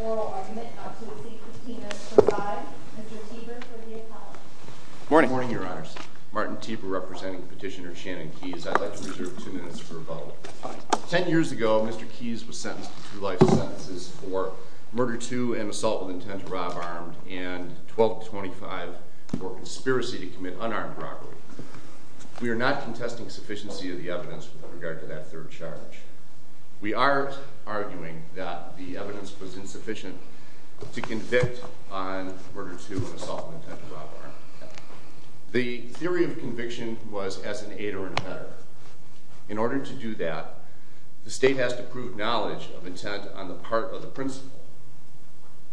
Oral Argument, Absolute Secrecy Notice, Provided. Mr. Tiber for the appellate. Morning, Your Honors. Martin Tiber representing Petitioner Shannon Keys. I'd like to reserve two minutes for rebuttal. Ten years ago, Mr. Keys was sentenced to two life sentences for murder to and assault with intent to rob armed, and 12-25 for conspiracy to commit unarmed robbery. We are not contesting sufficiency of the evidence with regard to that third charge. We are arguing that the evidence was insufficient to convict on murder to and assault with intent to rob armed. The theory of conviction was as an aid or an abettor. In order to do that, the state has to prove knowledge of intent on the part of the principal.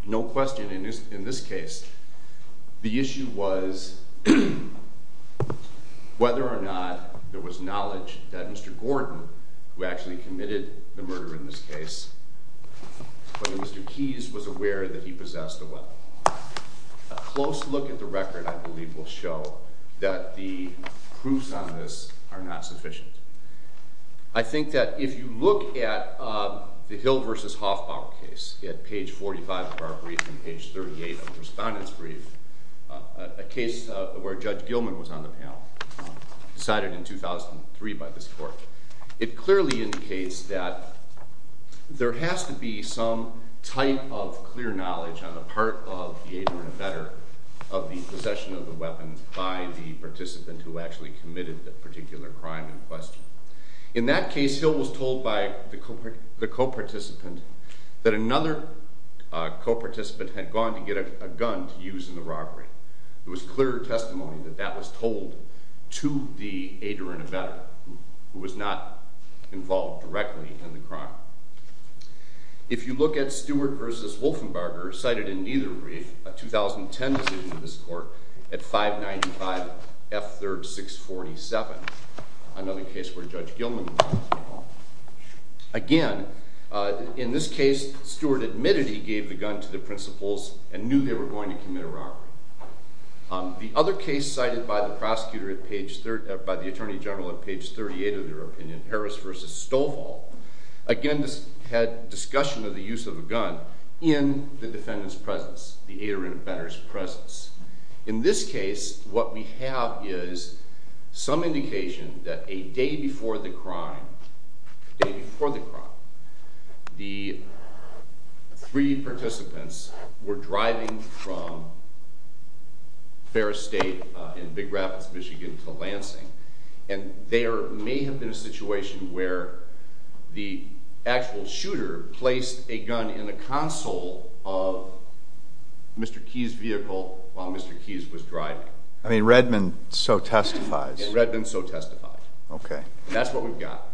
No question in this case, the issue was whether or not there was knowledge that Mr. Gordon, who actually committed the murder in this case, whether Mr. Keys was aware that he possessed a weapon. A close look at the record, I believe, will show that the proofs on this are not sufficient. I think that if you look at the Hill v. Hoffbaum case at page 45 of our brief and page 38 of the Respondent's Brief, a case where Judge Gilman was on the panel, decided in 2003 by this court, it clearly indicates that there has to be some type of clear knowledge on the part of the aid or abettor of the possession of the weapon by the participant who actually committed the particular crime in question. In that case, Hill was told by the co-participant that another co-participant had gone to get a gun to use in the robbery. There was clear testimony that that was told to the aid or abettor, who was not involved directly in the crime. If you look at Stewart v. Wolfenbarger, cited in neither brief, a 2010 decision of this court at 595 F. 3rd 647, another case where Judge Gilman was on the panel. Again, in this case, Stewart admitted he gave the gun to the principals and knew they were going to commit a robbery. The other case cited by the Attorney General at page 38 of their opinion, Harris v. Stolfall, again had discussion of the use of a gun in the defendant's presence, the aid or abettor's presence. In this case, what we have is some indication that a day before the crime, the three participants were driving from Ferris State in Big Rapids, Michigan to Lansing. There may have been a situation where the actual shooter placed a gun in the console of Mr. Keyes' vehicle while Mr. Keyes was driving. Redmond so testifies. Redmond so testifies. That's what we've got.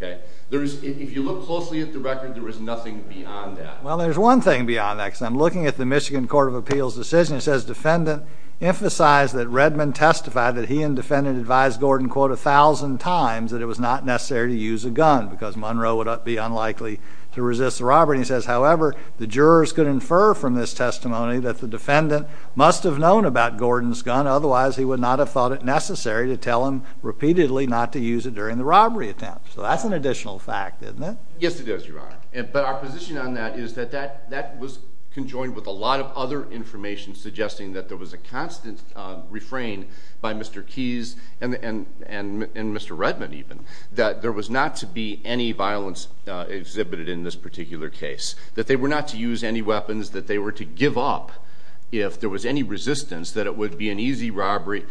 If you look closely at the record, there is nothing beyond that. Well, there's one thing beyond that because I'm looking at the Michigan Court of Appeals decision. It says defendant emphasized that Redmond testified that he and defendant advised Gordon, quote, a thousand times that it was not necessary to use a gun because Monroe would be unlikely to resist a robbery. He says, however, the jurors could infer from this testimony that the defendant must have known about Gordon's gun. Otherwise, he would not have thought it necessary to tell him repeatedly not to use it during the robbery attempt. So that's an additional fact, isn't it? Yes, it is, Your Honor. But our position on that is that that was conjoined with a lot of other information suggesting that there was a constant refrain by Mr. Keyes and Mr. Redmond, even, that there was not to be any violence exhibited in this particular case. That they were not to use any weapons, that they were to give up if there was any resistance, that it would be an easy robbery.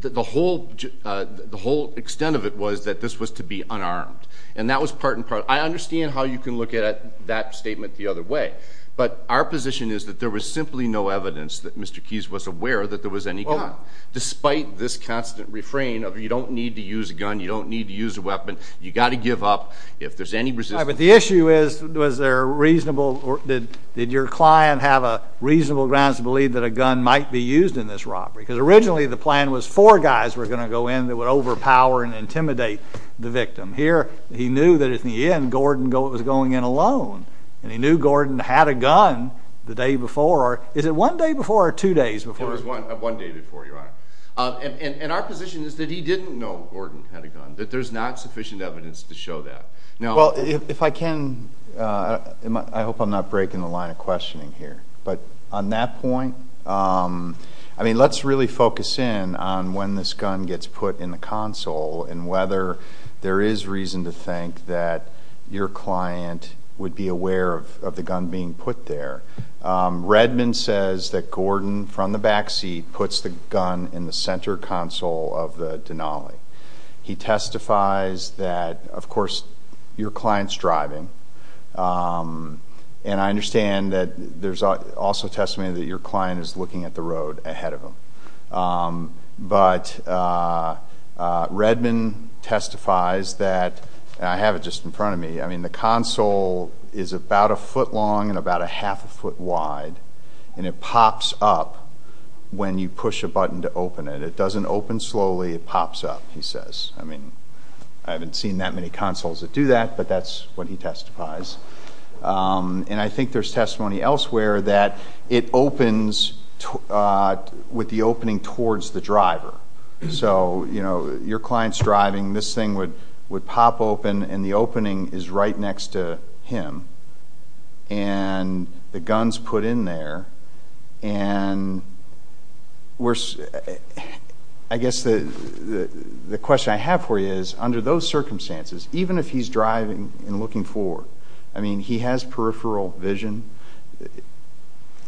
The whole extent of it was that this was to be unarmed. And that was part and parcel. I understand how you can look at that statement the other way. But our position is that there was simply no evidence that Mr. Keyes was aware that there was any gun. Despite this constant refrain of you don't need to use a gun, you don't need to use a weapon, you got to give up if there's any resistance. All right, but the issue is, was there a reasonable, did your client have a reasonable grounds to believe that a gun might be used in this robbery? Because originally the plan was four guys were going to go in that would overpower and intimidate the victim. Here, he knew that in the end Gordon was going in alone. And he knew Gordon had a gun the day before. Is it one day before or two days before? It was one day before, Your Honor. And our position is that he didn't know Gordon had a gun. That there's not sufficient evidence to show that. Well, if I can, I hope I'm not breaking the line of questioning here. But on that point, I mean, let's really focus in on when this gun gets put in the console and whether there is reason to think that your client would be aware of the gun being put there. Redmond says that Gordon, from the back seat, puts the gun in the center console of the Denali. He testifies that, of course, your client's driving. And I understand that there's also testimony that your client is looking at the road ahead of him. But Redmond testifies that, and I have it just in front of me, I mean, the console is about a foot long and about a half a foot wide. And it pops up when you push a button to open it. It doesn't open slowly. It pops up, he says. I mean, I haven't seen that many consoles that do that, but that's what he testifies. And I think there's testimony elsewhere that it opens with the opening towards the driver. So, you know, your client's driving. This thing would pop open, and the opening is right next to him. And the gun's put in there. And I guess the question I have for you is, under those circumstances, even if he's driving and looking forward, I mean, he has peripheral vision.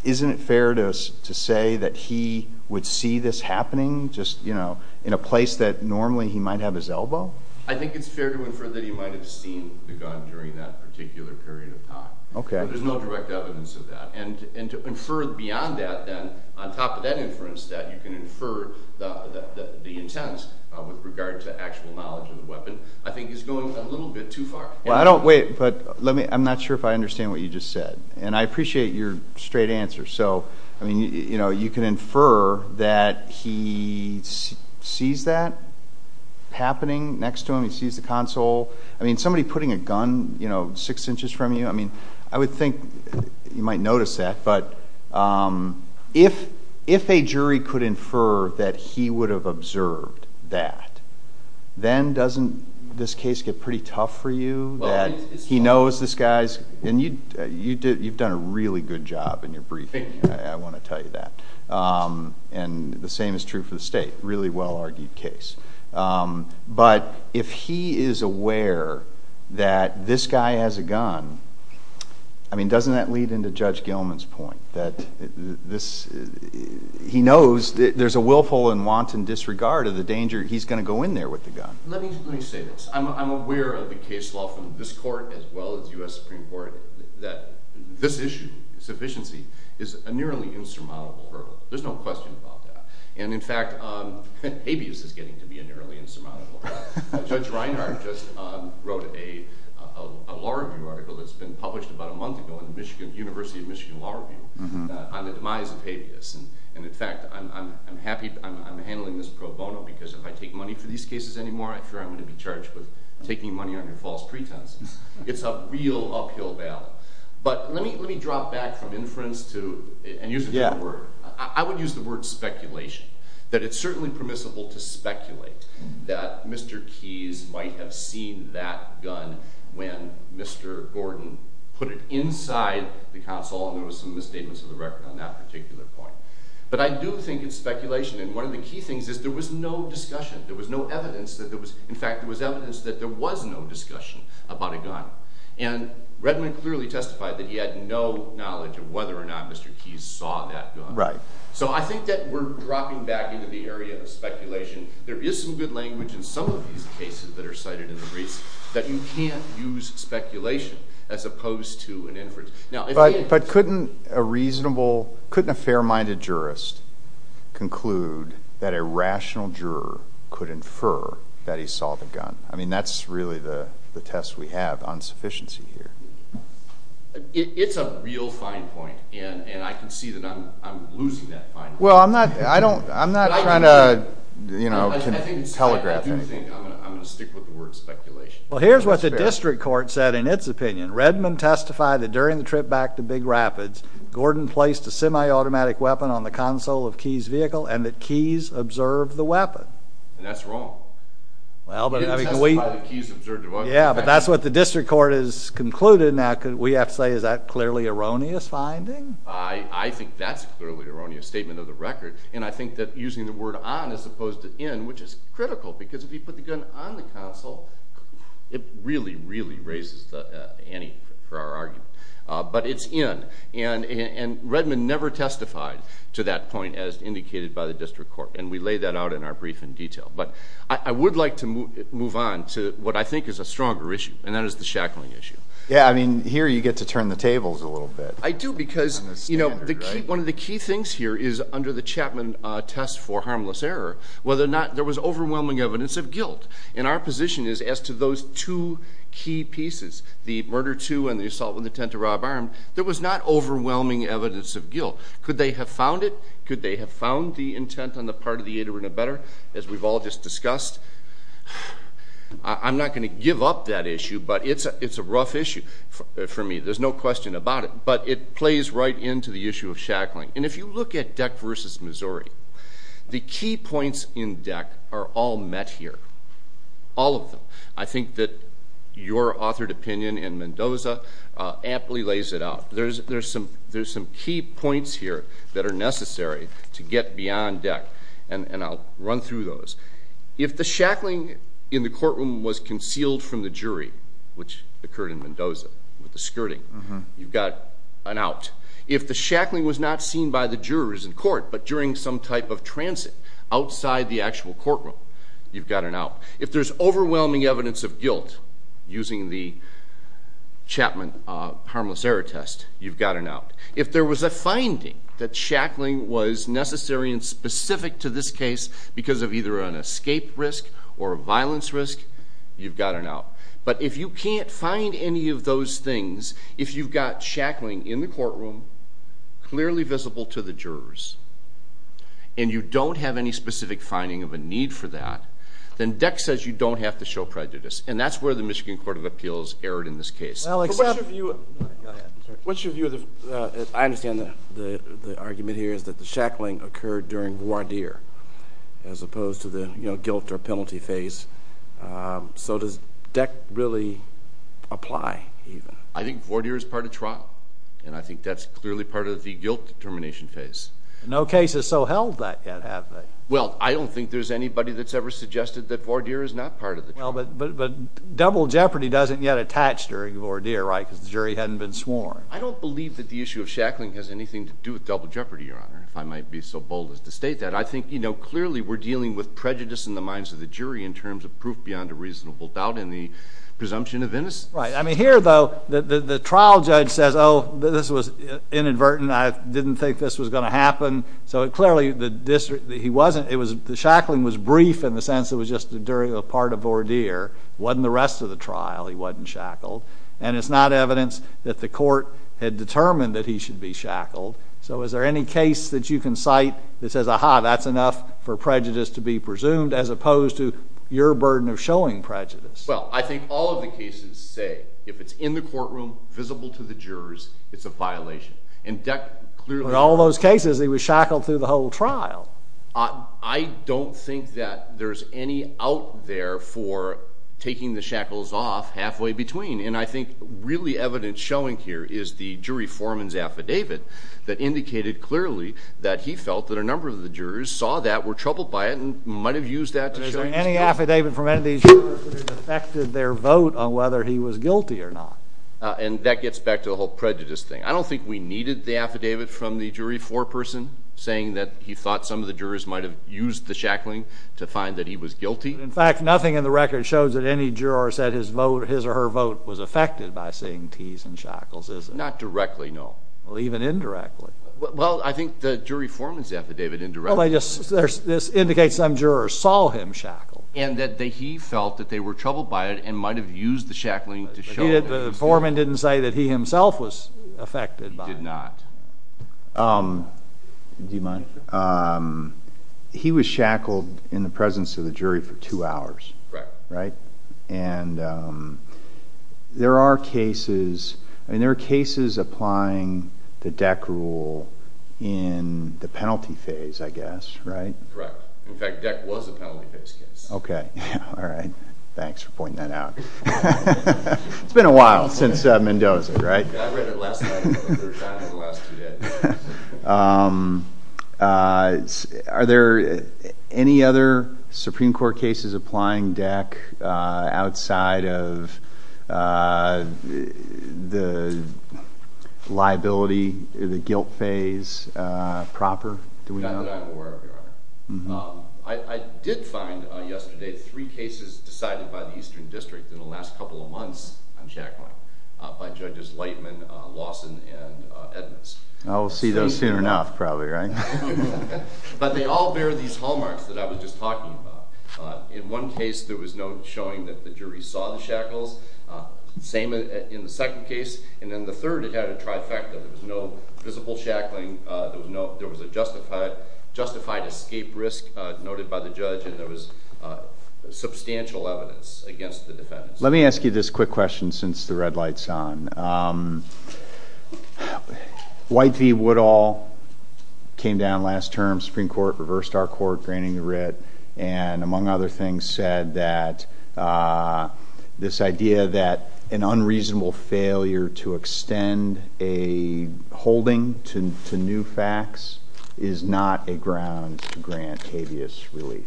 Isn't it fair to say that he would see this happening just, you know, in a place that normally he might have his elbow? I think it's fair to infer that he might have seen the gun during that particular period of time. But there's no direct evidence of that. And to infer beyond that then, on top of that inference, that you can infer the intent with regard to actual knowledge of the weapon, I think is going a little bit too far. Well, I don't wait, but I'm not sure if I understand what you just said. And I appreciate your straight answer. So, I mean, you know, you can infer that he sees that happening next to him. He sees the console. I mean, somebody putting a gun, you know, six inches from you. I mean, I would think you might notice that. But if a jury could infer that he would have observed that, then doesn't this case get pretty tough for you that he knows this guy's? And you've done a really good job in your briefing. I want to tell you that. And the same is true for the State. Really well-argued case. But if he is aware that this guy has a gun, I mean, doesn't that lead into Judge Gilman's point that he knows there's a willful and wanton disregard of the danger he's going to go in there with the gun? Let me say this. I'm aware of the case law from this court as well as U.S. Supreme Court that this issue, sufficiency, is a nearly insurmountable hurdle. There's no question about that. And, in fact, habeas is getting to be a nearly insurmountable hurdle. Judge Reinhart just wrote a law review article that's been published about a month ago in the University of Michigan Law Review on the demise of habeas. And, in fact, I'm happy I'm handling this pro bono because if I take money for these cases anymore, I fear I'm going to be charged with taking money under false pretense. It's a real uphill battle. But let me drop back from inference to – and use a different word. I would use the word speculation, that it's certainly permissible to speculate that Mr. Keyes might have seen that gun when Mr. Gordon put it inside the console. And there was some misstatements of the record on that particular point. But I do think it's speculation. And one of the key things is there was no discussion. There was no evidence that there was – in fact, there was evidence that there was no discussion about a gun. And Redmond clearly testified that he had no knowledge of whether or not Mr. Keyes saw that gun. Right. So I think that we're dropping back into the area of speculation. There is some good language in some of these cases that are cited in the briefs that you can't use speculation as opposed to an inference. But couldn't a reasonable – couldn't a fair-minded jurist conclude that a rational juror could infer that he saw the gun? I mean that's really the test we have on sufficiency here. It's a real fine point, and I can see that I'm losing that fine point. Well, I'm not trying to, you know, telegraph anything. I'm going to stick with the word speculation. Well, here's what the district court said in its opinion. Redmond testified that during the trip back to Big Rapids, Gordon placed a semi-automatic weapon on the console of Keyes' vehicle and that Keyes observed the weapon. And that's wrong. He didn't testify that Keyes observed the weapon. Yeah, but that's what the district court has concluded. Now, we have to say, is that a clearly erroneous finding? I think that's a clearly erroneous statement of the record, and I think that using the word on as opposed to in, which is critical, because if he put the gun on the console, it really, really raises the ante for our argument. But it's in, and Redmond never testified to that point as indicated by the district court, and we lay that out in our brief in detail. But I would like to move on to what I think is a stronger issue, and that is the shackling issue. Yeah, I mean, here you get to turn the tables a little bit. I do because, you know, one of the key things here is under the Chapman test for harmless error, whether or not there was overwhelming evidence of guilt. And our position is as to those two key pieces, the murder two and the assault with intent to rob armed, there was not overwhelming evidence of guilt. Could they have found it? As we've all just discussed, I'm not going to give up that issue, but it's a rough issue for me. There's no question about it, but it plays right into the issue of shackling. And if you look at Deck v. Missouri, the key points in Deck are all met here, all of them. I think that your authored opinion in Mendoza aptly lays it out. There's some key points here that are necessary to get beyond Deck, and I'll run through those. If the shackling in the courtroom was concealed from the jury, which occurred in Mendoza with the skirting, you've got an out. If the shackling was not seen by the jurors in court but during some type of transit outside the actual courtroom, you've got an out. If there's overwhelming evidence of guilt using the Chapman harmless error test, you've got an out. If there was a finding that shackling was necessary and specific to this case because of either an escape risk or a violence risk, you've got an out. But if you can't find any of those things, if you've got shackling in the courtroom, clearly visible to the jurors, and you don't have any specific finding of a need for that, then Deck says you don't have to show prejudice. And that's where the Michigan Court of Appeals erred in this case. What's your view of the – I understand the argument here is that the shackling occurred during voir dire as opposed to the guilt or penalty phase. So does Deck really apply even? I think voir dire is part of trial, and I think that's clearly part of the guilt determination phase. No case has so held that yet, have they? Well, I don't think there's anybody that's ever suggested that voir dire is not part of the trial. But double jeopardy doesn't yet attach during voir dire, right, because the jury hadn't been sworn. I don't believe that the issue of shackling has anything to do with double jeopardy, Your Honor, if I might be so bold as to state that. I think, you know, clearly we're dealing with prejudice in the minds of the jury in terms of proof beyond a reasonable doubt and the presumption of innocence. Right. I mean, here, though, the trial judge says, oh, this was inadvertent. I didn't think this was going to happen. So clearly he wasn't – the shackling was brief in the sense it was just during a part of voir dire. It wasn't the rest of the trial he wasn't shackled. And it's not evidence that the court had determined that he should be shackled. So is there any case that you can cite that says, aha, that's enough for prejudice to be presumed as opposed to your burden of showing prejudice? Well, I think all of the cases say if it's in the courtroom, visible to the jurors, it's a violation. In all those cases, he was shackled through the whole trial. I don't think that there's any out there for taking the shackles off halfway between. And I think really evidence showing here is the jury foreman's affidavit that indicated clearly that he felt that a number of the jurors saw that, were troubled by it, and might have used that to show – Any affidavit from any of these jurors that it affected their vote on whether he was guilty or not. And that gets back to the whole prejudice thing. I don't think we needed the affidavit from the jury foreperson saying that he thought some of the jurors might have used the shackling to find that he was guilty. In fact, nothing in the record shows that any juror said his vote – his or her vote was affected by seeing tees and shackles, is it? Not directly, no. Well, even indirectly. Well, I think the jury foreman's affidavit indirectly – Well, this indicates some jurors saw him shackle. And that he felt that they were troubled by it and might have used the shackling to show it. The foreman didn't say that he himself was affected by it. He did not. Do you mind? He was shackled in the presence of the jury for two hours. Right. Right. And there are cases – I mean, there are cases applying the DEC rule in the penalty phase, I guess, right? Correct. In fact, DEC was a penalty phase case. Okay. All right. Thanks for pointing that out. It's been a while since Mendoza, right? I read it last night for the third time in the last two days. Are there any other Supreme Court cases applying DEC outside of the liability, the guilt phase, proper? Not that I'm aware of, Your Honor. I did find yesterday three cases decided by the Eastern District in the last couple of months on shackling by Judges Lightman, Lawson, and Edmonds. I'll see those soon enough probably, right? But they all bear these hallmarks that I was just talking about. In one case, there was no showing that the jury saw the shackles. Same in the second case. And in the third, it had a trifecta. There was no visible shackling. There was a justified escape risk noted by the judge, and there was substantial evidence against the defendants. Let me ask you this quick question since the red light's on. White v. Woodall came down last term, Supreme Court reversed our court, granting the writ, and among other things said that this idea that an unreasonable failure to extend a holding to new facts is not a ground to grant habeas relief.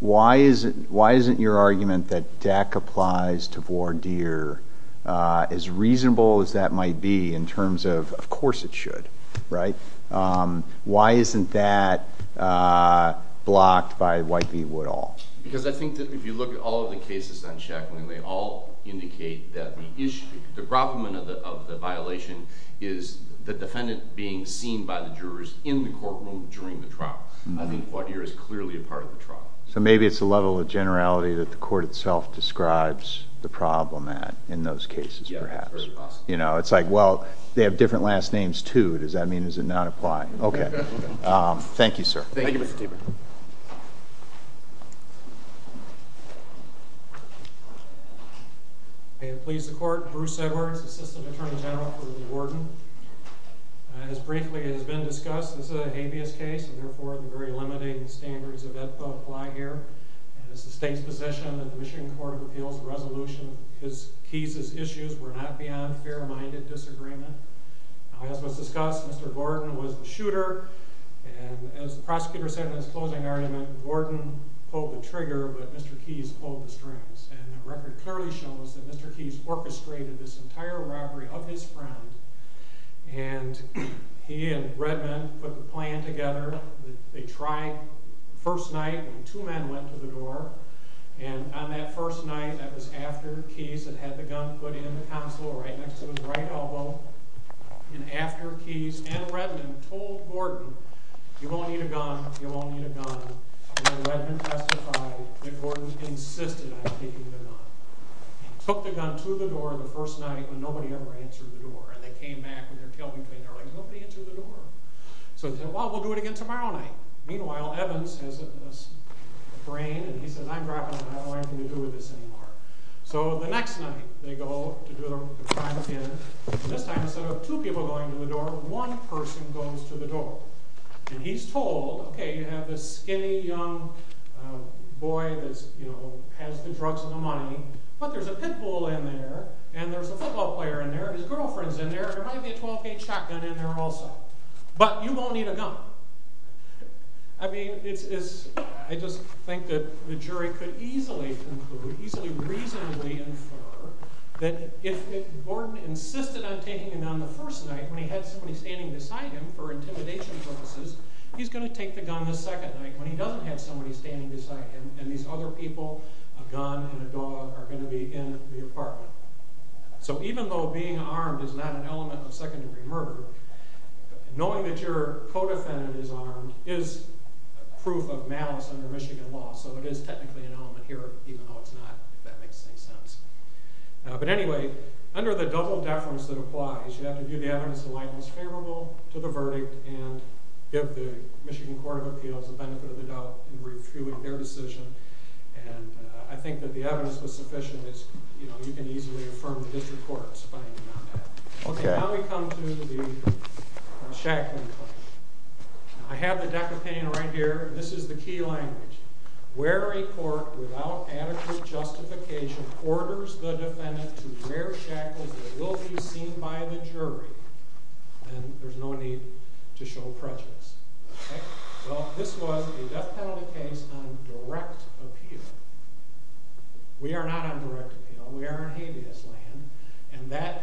Why isn't your argument that DAC applies to voir dire as reasonable as that might be in terms of, of course it should, right? Why isn't that blocked by White v. Woodall? Because I think that if you look at all of the cases on shackling, they all indicate that the problem of the violation is the defendant being seen by the jurors in the courtroom during the trial. I think voir dire is clearly a part of the trial. So maybe it's the level of generality that the court itself describes the problem at in those cases, perhaps. Yeah, it's very possible. You know, it's like, well, they have different last names, too. Does that mean it does not apply? Okay. Thank you, sir. Thank you, Mr. Tabor. May it please the court, Bruce Edwards, assistant attorney general for the warden. As briefly has been discussed, this is a habeas case, and therefore the very limiting standards of it apply here. And it's the state's position that the Michigan Court of Appeals resolution, his, Keyes' issues were not beyond fair-minded disagreement. As was discussed, Mr. Gordon was the shooter, and as the prosecutor said in his closing argument, Gordon pulled the trigger, but Mr. Keyes pulled the strings. And the record clearly shows that Mr. Keyes orchestrated this entire robbery of his friend, and he and Redmond put the plan together. They tried first night, and two men went to the door. And on that first night, that was after Keyes had had the gun put in the console right next to his right elbow. And after Keyes and Redmond told Gordon, you won't need a gun, you won't need a gun, and Redmond testified that Gordon insisted on taking the gun. He took the gun to the door the first night, and nobody ever answered the door. And they came back with their tail between their legs. Nobody answered the door. So they said, well, we'll do it again tomorrow night. Meanwhile, Evans has a brain, and he said, I'm dropping it. I don't know anything to do with this anymore. So the next night, they go to do their crime again. This time, instead of two people going to the door, one person goes to the door. And he's told, okay, you have this skinny young boy that has the drugs and the money, but there's a pit bull in there, and there's a football player in there, and his girlfriend's in there, and there might be a 12-gauge shotgun in there also. I mean, I just think that the jury could easily conclude, easily reasonably infer, that if Gordon insisted on taking the gun the first night when he had somebody standing beside him for intimidation purposes, he's going to take the gun the second night when he doesn't have somebody standing beside him, and these other people, a gun and a dog, are going to be in the apartment. So even though being armed is not an element of second-degree murder, knowing that your co-defendant is armed is proof of malice under Michigan law. So it is technically an element here, even though it's not, if that makes any sense. But anyway, under the double deference that applies, you have to give the evidence that's favorable to the verdict, and give the Michigan Court of Appeals the benefit of the doubt in refuting their decision. And I think that the evidence was sufficient. You can easily affirm the district court's finding on that. Okay, now we come to the shackling question. I have the deck opinion right here. This is the key language. Where a court, without adequate justification, orders the defendant to wear shackles that will be seen by the jury, then there's no need to show prejudice. Well, this was a death penalty case on direct appeal. We are not on direct appeal. We are on habeas land. And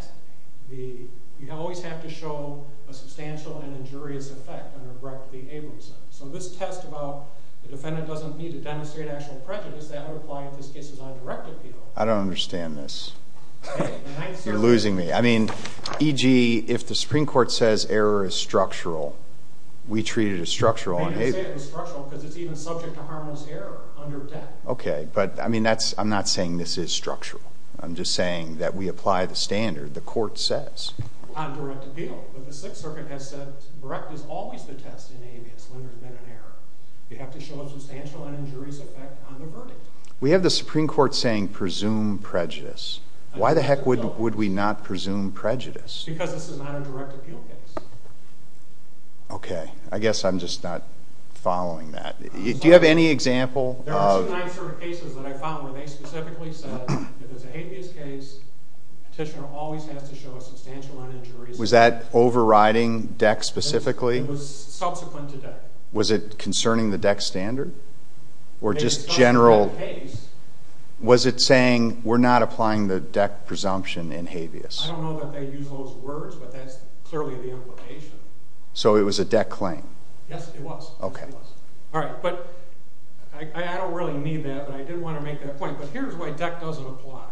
you always have to show a substantial and injurious effect on a direct behavior. So this test about the defendant doesn't need to demonstrate actual prejudice, that would apply if this case is on direct appeal. I don't understand this. You're losing me. I mean, e.g., if the Supreme Court says error is structural, we treat it as structural on habeas. They can say it's structural because it's even subject to harmless error under death. Okay, but I'm not saying this is structural. I'm just saying that we apply the standard the court says. On direct appeal. But the Sixth Circuit has said direct is always the test in habeas when there's been an error. You have to show a substantial and injurious effect on the verdict. We have the Supreme Court saying presume prejudice. Why the heck would we not presume prejudice? Because this is not a direct appeal case. Okay, I guess I'm just not following that. Do you have any example of... There are two nine-story cases that I follow where they specifically said if it's a habeas case, the petitioner always has to show a substantial and injurious effect. Was that overriding DEC specifically? It was subsequent to DEC. Was it concerning the DEC standard? Or just general... Was it saying we're not applying the DEC presumption in habeas? I don't know that they use those words, but that's clearly the implication. So it was a DEC claim? Yes, it was. Okay. All right, but I don't really need that, but I did want to make that point. But here's why DEC doesn't apply.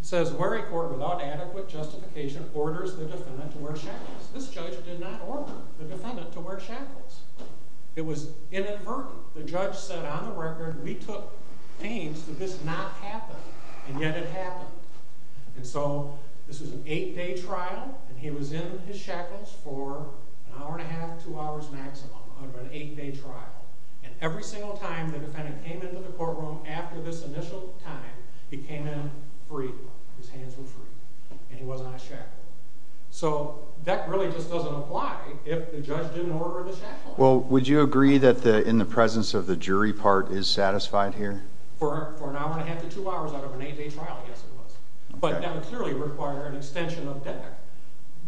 It says, weary court without adequate justification orders the defendant to wear shackles. This judge did not order the defendant to wear shackles. It was inadvertent. The judge said, on the record, we took pains that this not happen, and yet it happened. And so this was an eight-day trial, and he was in his shackles for an hour and a half, two hours maximum, under an eight-day trial. And every single time the defendant came into the courtroom after this initial time, he came in free. His hands were free, and he wasn't on a shackle. So DEC really just doesn't apply if the judge didn't order the shackles. Well, would you agree that in the presence of the jury part is satisfied here? For an hour and a half to two hours out of an eight-day trial, yes, it was. But that would clearly require an extension of DEC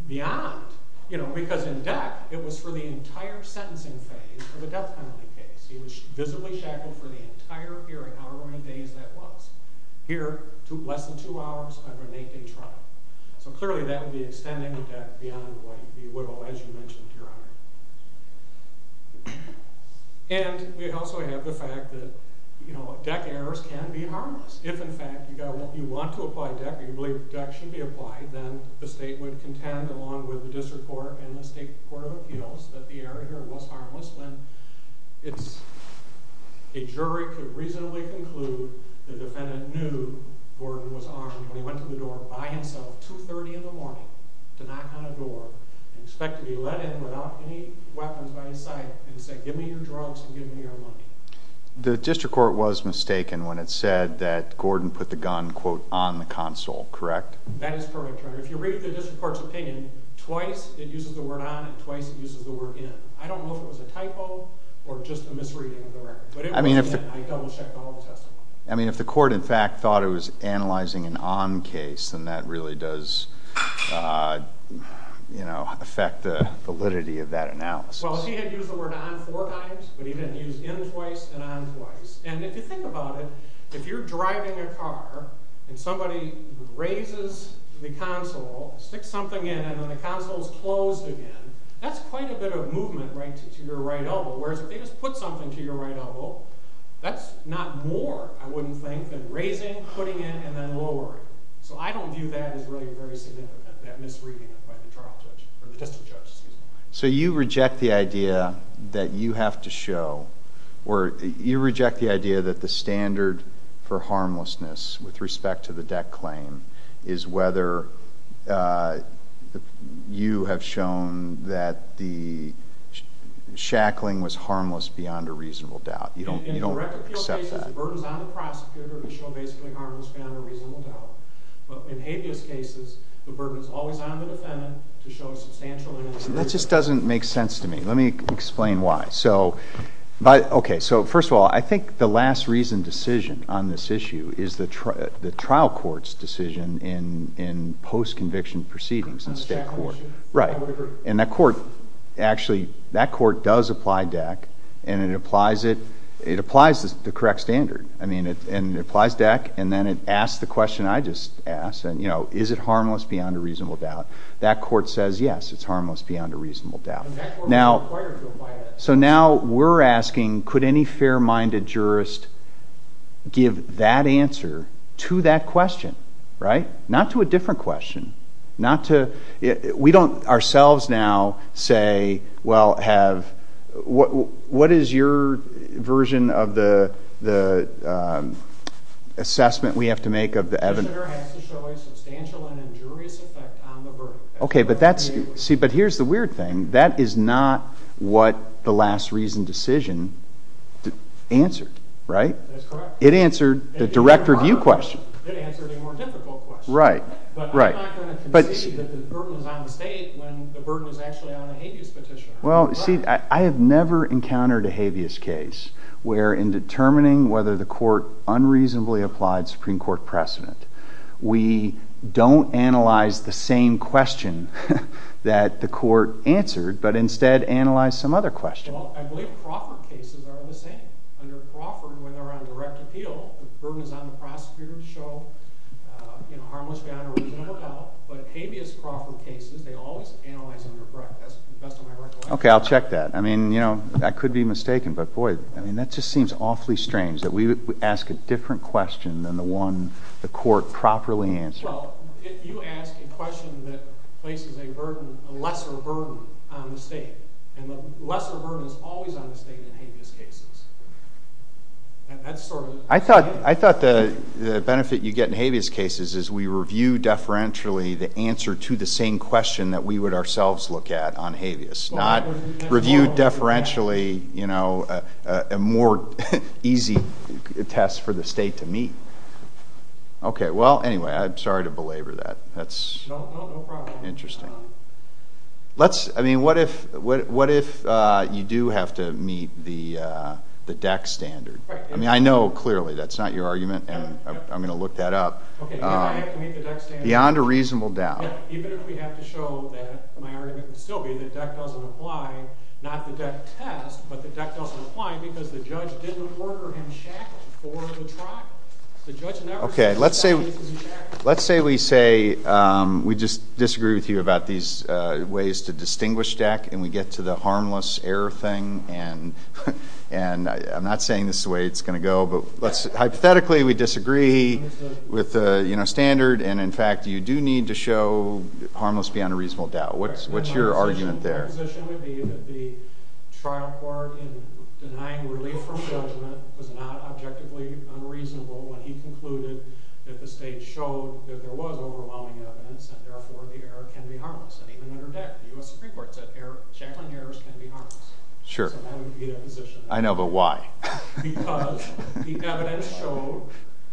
beyond, you know, because in DEC it was for the entire sentencing phase for the death penalty case. He was visibly shackled for the entire hearing, however many days that was. Here, less than two hours under an eight-day trial. So clearly that would be extending the DEC beyond what he would have alleged you mentioned, Your Honor. And we also have the fact that, you know, DEC errors can be harmless. If, in fact, you want to apply DEC or you believe DEC should be applied, then the state would contend, along with the district court and the state court of appeals, that the error here was harmless when a jury could reasonably conclude the defendant knew Gordon was armed when he went to the door by himself at 2.30 in the morning to knock on a door and expect to be let in without any weapons by his side and say, give me your drugs and give me your money. The district court was mistaken when it said that Gordon put the gun, quote, on the console, correct? That is correct, Your Honor. If you read the district court's opinion, twice it uses the word on and twice it uses the word in. I don't know if it was a typo or just a misreading of the record. I mean, if the court, in fact, thought it was analyzing an on case, then that really does, you know, affect the validity of that analysis. Well, he had used the word on four times, but he didn't use in twice and on twice. And if you think about it, if you're driving a car and somebody raises the console, sticks something in, and then the console is closed again, that's quite a bit of movement, right, to your right elbow, whereas if they just put something to your right elbow, that's not more, I wouldn't think, than raising, putting in, and then lowering. So I don't view that as really very significant, that misreading by the district judge. So you reject the idea that you have to show, or you reject the idea that the standard for harmlessness with respect to the debt claim is whether you have shown that the shackling was harmless beyond a reasonable doubt. You don't accept that. In direct appeal cases, the burden is on the prosecutor to show basically harmless beyond a reasonable doubt. But in habeas cases, the burden is always on the defendant to show substantial and unreasonable doubt. That just doesn't make sense to me. Let me explain why. Okay, so first of all, I think the last reason decision on this issue is the trial court's decision in post-conviction proceedings in state court. Right. And that court, actually, that court does apply DECC, and it applies it. It applies the correct standard, and it applies DECC, and then it asks the question I just asked, and, you know, is it harmless beyond a reasonable doubt? That court says, yes, it's harmless beyond a reasonable doubt. So now we're asking, could any fair-minded jurist give that answer to that question? Right? Not to a different question. Not to—we don't ourselves now say, well, have—what is your version of the assessment we have to make of the evidence? Okay, but that's—see, but here's the weird thing. That is not what the last reason decision answered. Right? That's correct. It answered the direct review question. It answered a more difficult question. Right, right. But I'm not going to concede that the burden is on the state when the burden is actually on a habeas petition. Well, see, I have never encountered a habeas case where in determining whether the court unreasonably applied Supreme Court precedent, we don't analyze the same question that the court answered, but instead analyze some other question. Well, I believe Crawford cases are the same. Under Crawford, when they're on direct appeal, the burden is on the prosecutor to show, you know, harmless beyond a reasonable doubt. But habeas Crawford cases, they always analyze them direct. That's the best of my recollection. Okay, I'll check that. I mean, you know, I could be mistaken, but, boy, I mean, that just seems awfully strange that we would ask a different question than the one the court properly answered. Well, if you ask a question that places a lesser burden on the state, and the lesser burden is always on the state in habeas cases. And that's sort of— I thought the benefit you get in habeas cases is we review deferentially the answer to the same question that we would ourselves look at on habeas, not review deferentially, you know, a more easy test for the state to meet. Okay, well, anyway, I'm sorry to belabor that. That's interesting. Let's—I mean, what if you do have to meet the DEC standard? I mean, I know clearly that's not your argument, and I'm going to look that up. Beyond a reasonable doubt. Even if we have to show that my argument would still be that DEC doesn't apply, not the DEC test, but that DEC doesn't apply because the judge didn't order him shackled for the trial. The judge never said that. Let's say we say we just disagree with you about these ways to distinguish DEC, and we get to the harmless error thing, and I'm not saying this is the way it's going to go, but hypothetically we disagree with the standard, and in fact you do need to show harmless beyond a reasonable doubt. What's your argument there? My position would be that the trial court in denying relief from judgment was not objectively unreasonable when he concluded that the state showed that there was overwhelming evidence, and therefore the error can be harmless. And even under DEC, the U.S. Supreme Court said shackling errors can be harmless. Sure. So that would be the position. I know, but why? Because the evidence showed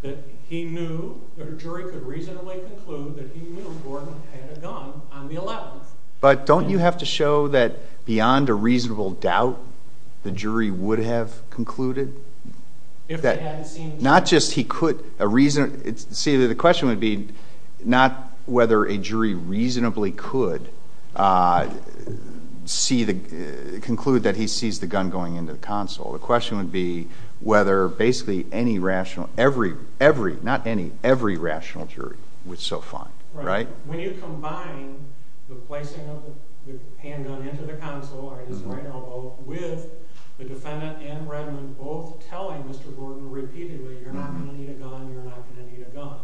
that he knew that a jury could reasonably conclude that he knew Gordon had a gun on the 11th. But don't you have to show that beyond a reasonable doubt the jury would have concluded? If they hadn't seen the gun. Not just he could. See, the question would be not whether a jury reasonably could conclude that he sees the gun going into the console. The question would be whether basically every rational jury would so find. Right. When you combine the placing of the handgun into the console or his right elbow with the defendant and Redmond both telling Mr. Gordon repeatedly, you're not going to need a gun, you're not going to need a gun,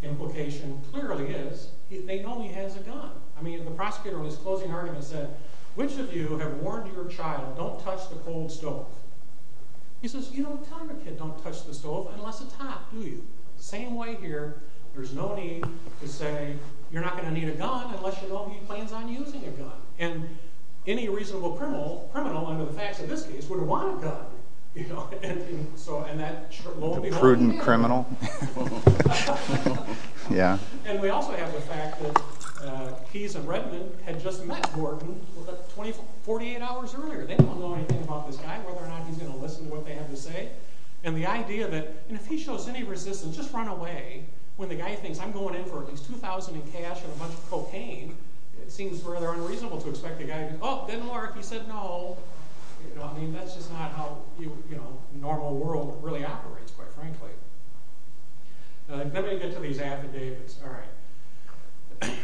the implication clearly is they know he has a gun. I mean, the prosecutor in his closing argument said, which of you have warned your child don't touch the cold stove? He says, you don't tell your kid don't touch the stove unless it's hot, do you? Same way here. There's no need to say you're not going to need a gun unless you know he plans on using a gun. And any reasonable criminal under the facts of this case would want a gun. You know. So and that. The prudent criminal. Yeah. And we also have the fact that Keys and Redmond had just met Gordon 48 hours earlier. They don't know anything about this guy, whether or not he's going to listen to what they have to say. And the idea that if he shows any resistance, just run away, when the guy thinks I'm going in for at least $2,000 in cash and a bunch of cocaine, it seems rather unreasonable to expect the guy to go, oh, didn't work, he said no. I mean, that's just not how the normal world really operates, quite frankly. Let me get to these affidavits. All right.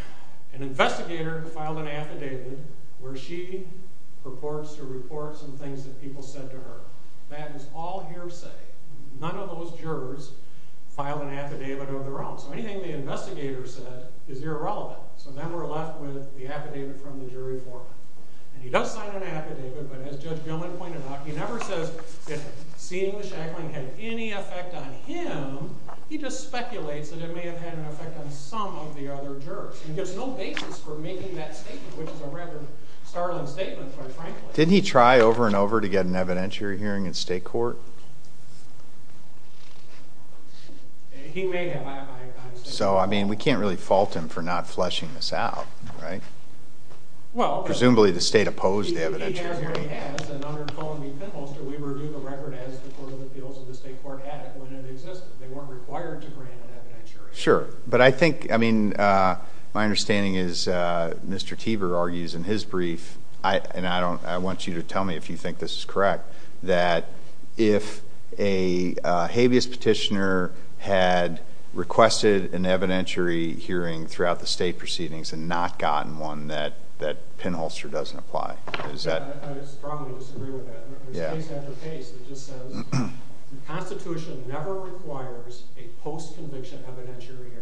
An investigator filed an affidavit where she purports to report some things that people said to her. That is all hearsay. None of those jurors filed an affidavit of their own. So anything the investigator said is irrelevant. So then we're left with the affidavit from the jury form. And he does sign an affidavit. But as Judge Gilman pointed out, he never says that seeing the shackling had any effect on him. He just speculates that it may have had an effect on some of the other jurors. And there's no basis for making that statement, which is a rather startling statement, quite frankly. Didn't he try over and over to get an evidentiary hearing in state court? He may have. So, I mean, we can't really fault him for not fleshing this out, right? Presumably the state opposed the evidentiary hearing. Sure. But I think, I mean, my understanding is Mr. Teever argues in his brief, and I want you to tell me if you think this is correct, that if a habeas petitioner had requested an evidentiary hearing throughout the state proceedings and not gotten one, that Pinholster doesn't apply. I strongly disagree with that. It's case after case. It just says the Constitution never requires a post-conviction evidentiary hearing.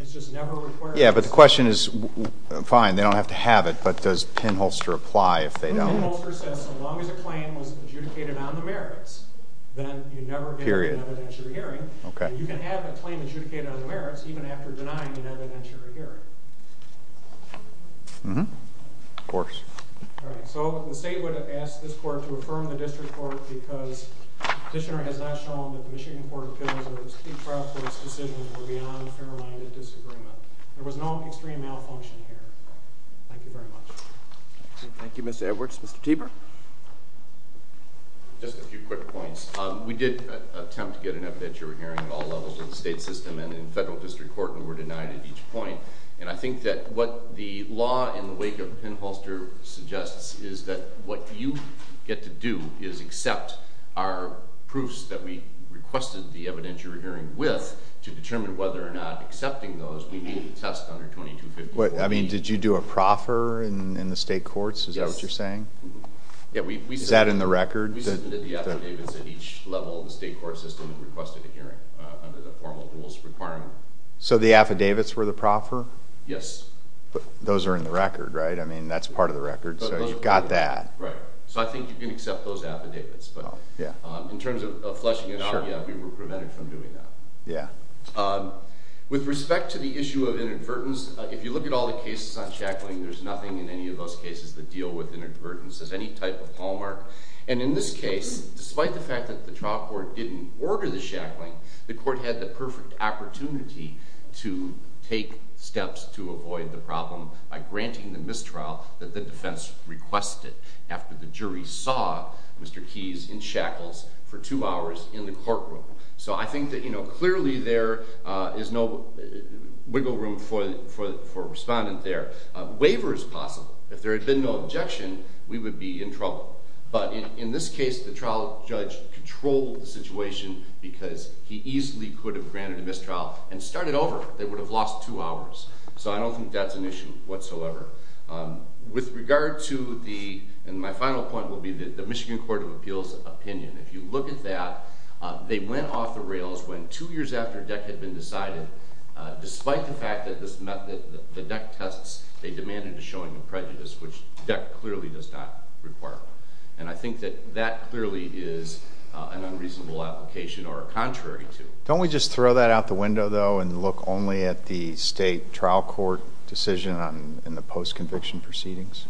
It's just never required. Yeah, but the question is, fine, they don't have to have it, but does Pinholster apply if they don't? Pinholster says so long as a claim was adjudicated on the merits, then you never get an evidentiary hearing. You can have a claim adjudicated on the merits even after denying an evidentiary hearing. Of course. So the state would have asked this court to affirm the district court because the petitioner has not shown that the Michigan Court of Appeals or the state trial court's decisions were beyond a fair-minded disagreement. There was no extreme malfunction here. Thank you very much. Thank you, Mr. Edwards. Mr. Teber? Just a few quick points. We did attempt to get an evidentiary hearing at all levels of the state system and in federal district court and were denied at each point. And I think that what the law in the wake of Pinholster suggests is that what you get to do is accept our proofs that we requested the evidentiary hearing with to determine whether or not accepting those we need to test under 2254. I mean, did you do a proffer in the state courts? Is that what you're saying? Is that in the record? We submitted the affidavits at each level of the state court system and requested a hearing under the formal rules requirement. So the affidavits were the proffer? Yes. Those are in the record, right? I mean, that's part of the record, so you've got that. Right. So I think you can accept those affidavits. In terms of fleshing it out, yeah, we were prevented from doing that. With respect to the issue of inadvertence, if you look at all the cases on shackling, there's nothing in any of those cases that deal with inadvertence as any type of hallmark. And in this case, despite the fact that the trial court didn't order the shackling, the court had the perfect opportunity to take steps to avoid the problem by granting the mistrial that the defense requested after the jury saw Mr. Keyes in shackles for two hours in the courtroom. So I think that clearly there is no wiggle room for a respondent there. Waiver is possible. If there had been no objection, we would be in trouble. But in this case, the trial judge controlled the situation because he easily could have granted a mistrial and started over. They would have lost two hours. So I don't think that's an issue whatsoever. With regard to the—and my final point will be the Michigan Court of Appeals opinion. If you look at that, they went off the rails when two years after DECK had been decided, despite the fact that the DECK tests, they demanded a showing of prejudice, which DECK clearly does not require. And I think that that clearly is an unreasonable application or a contrary to. Don't we just throw that out the window, though, and look only at the state trial court decision and the post-conviction proceedings?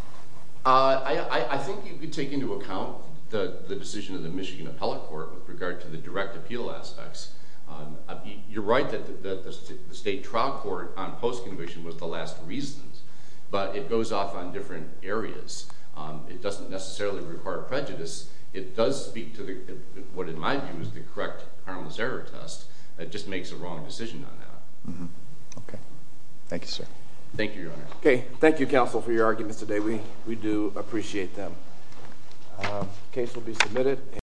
I think you could take into account the decision of the Michigan Appellate Court with regard to the direct appeal aspects. You're right that the state trial court on post-conviction was the last reason, but it goes off on different areas. It doesn't necessarily require prejudice. It does speak to what, in my view, is the correct harmless error test. It just makes a wrong decision on that. Okay. Thank you, sir. Thank you, Your Honor. Okay. Thank you, counsel, for your arguments today. We do appreciate them. The case will be submitted.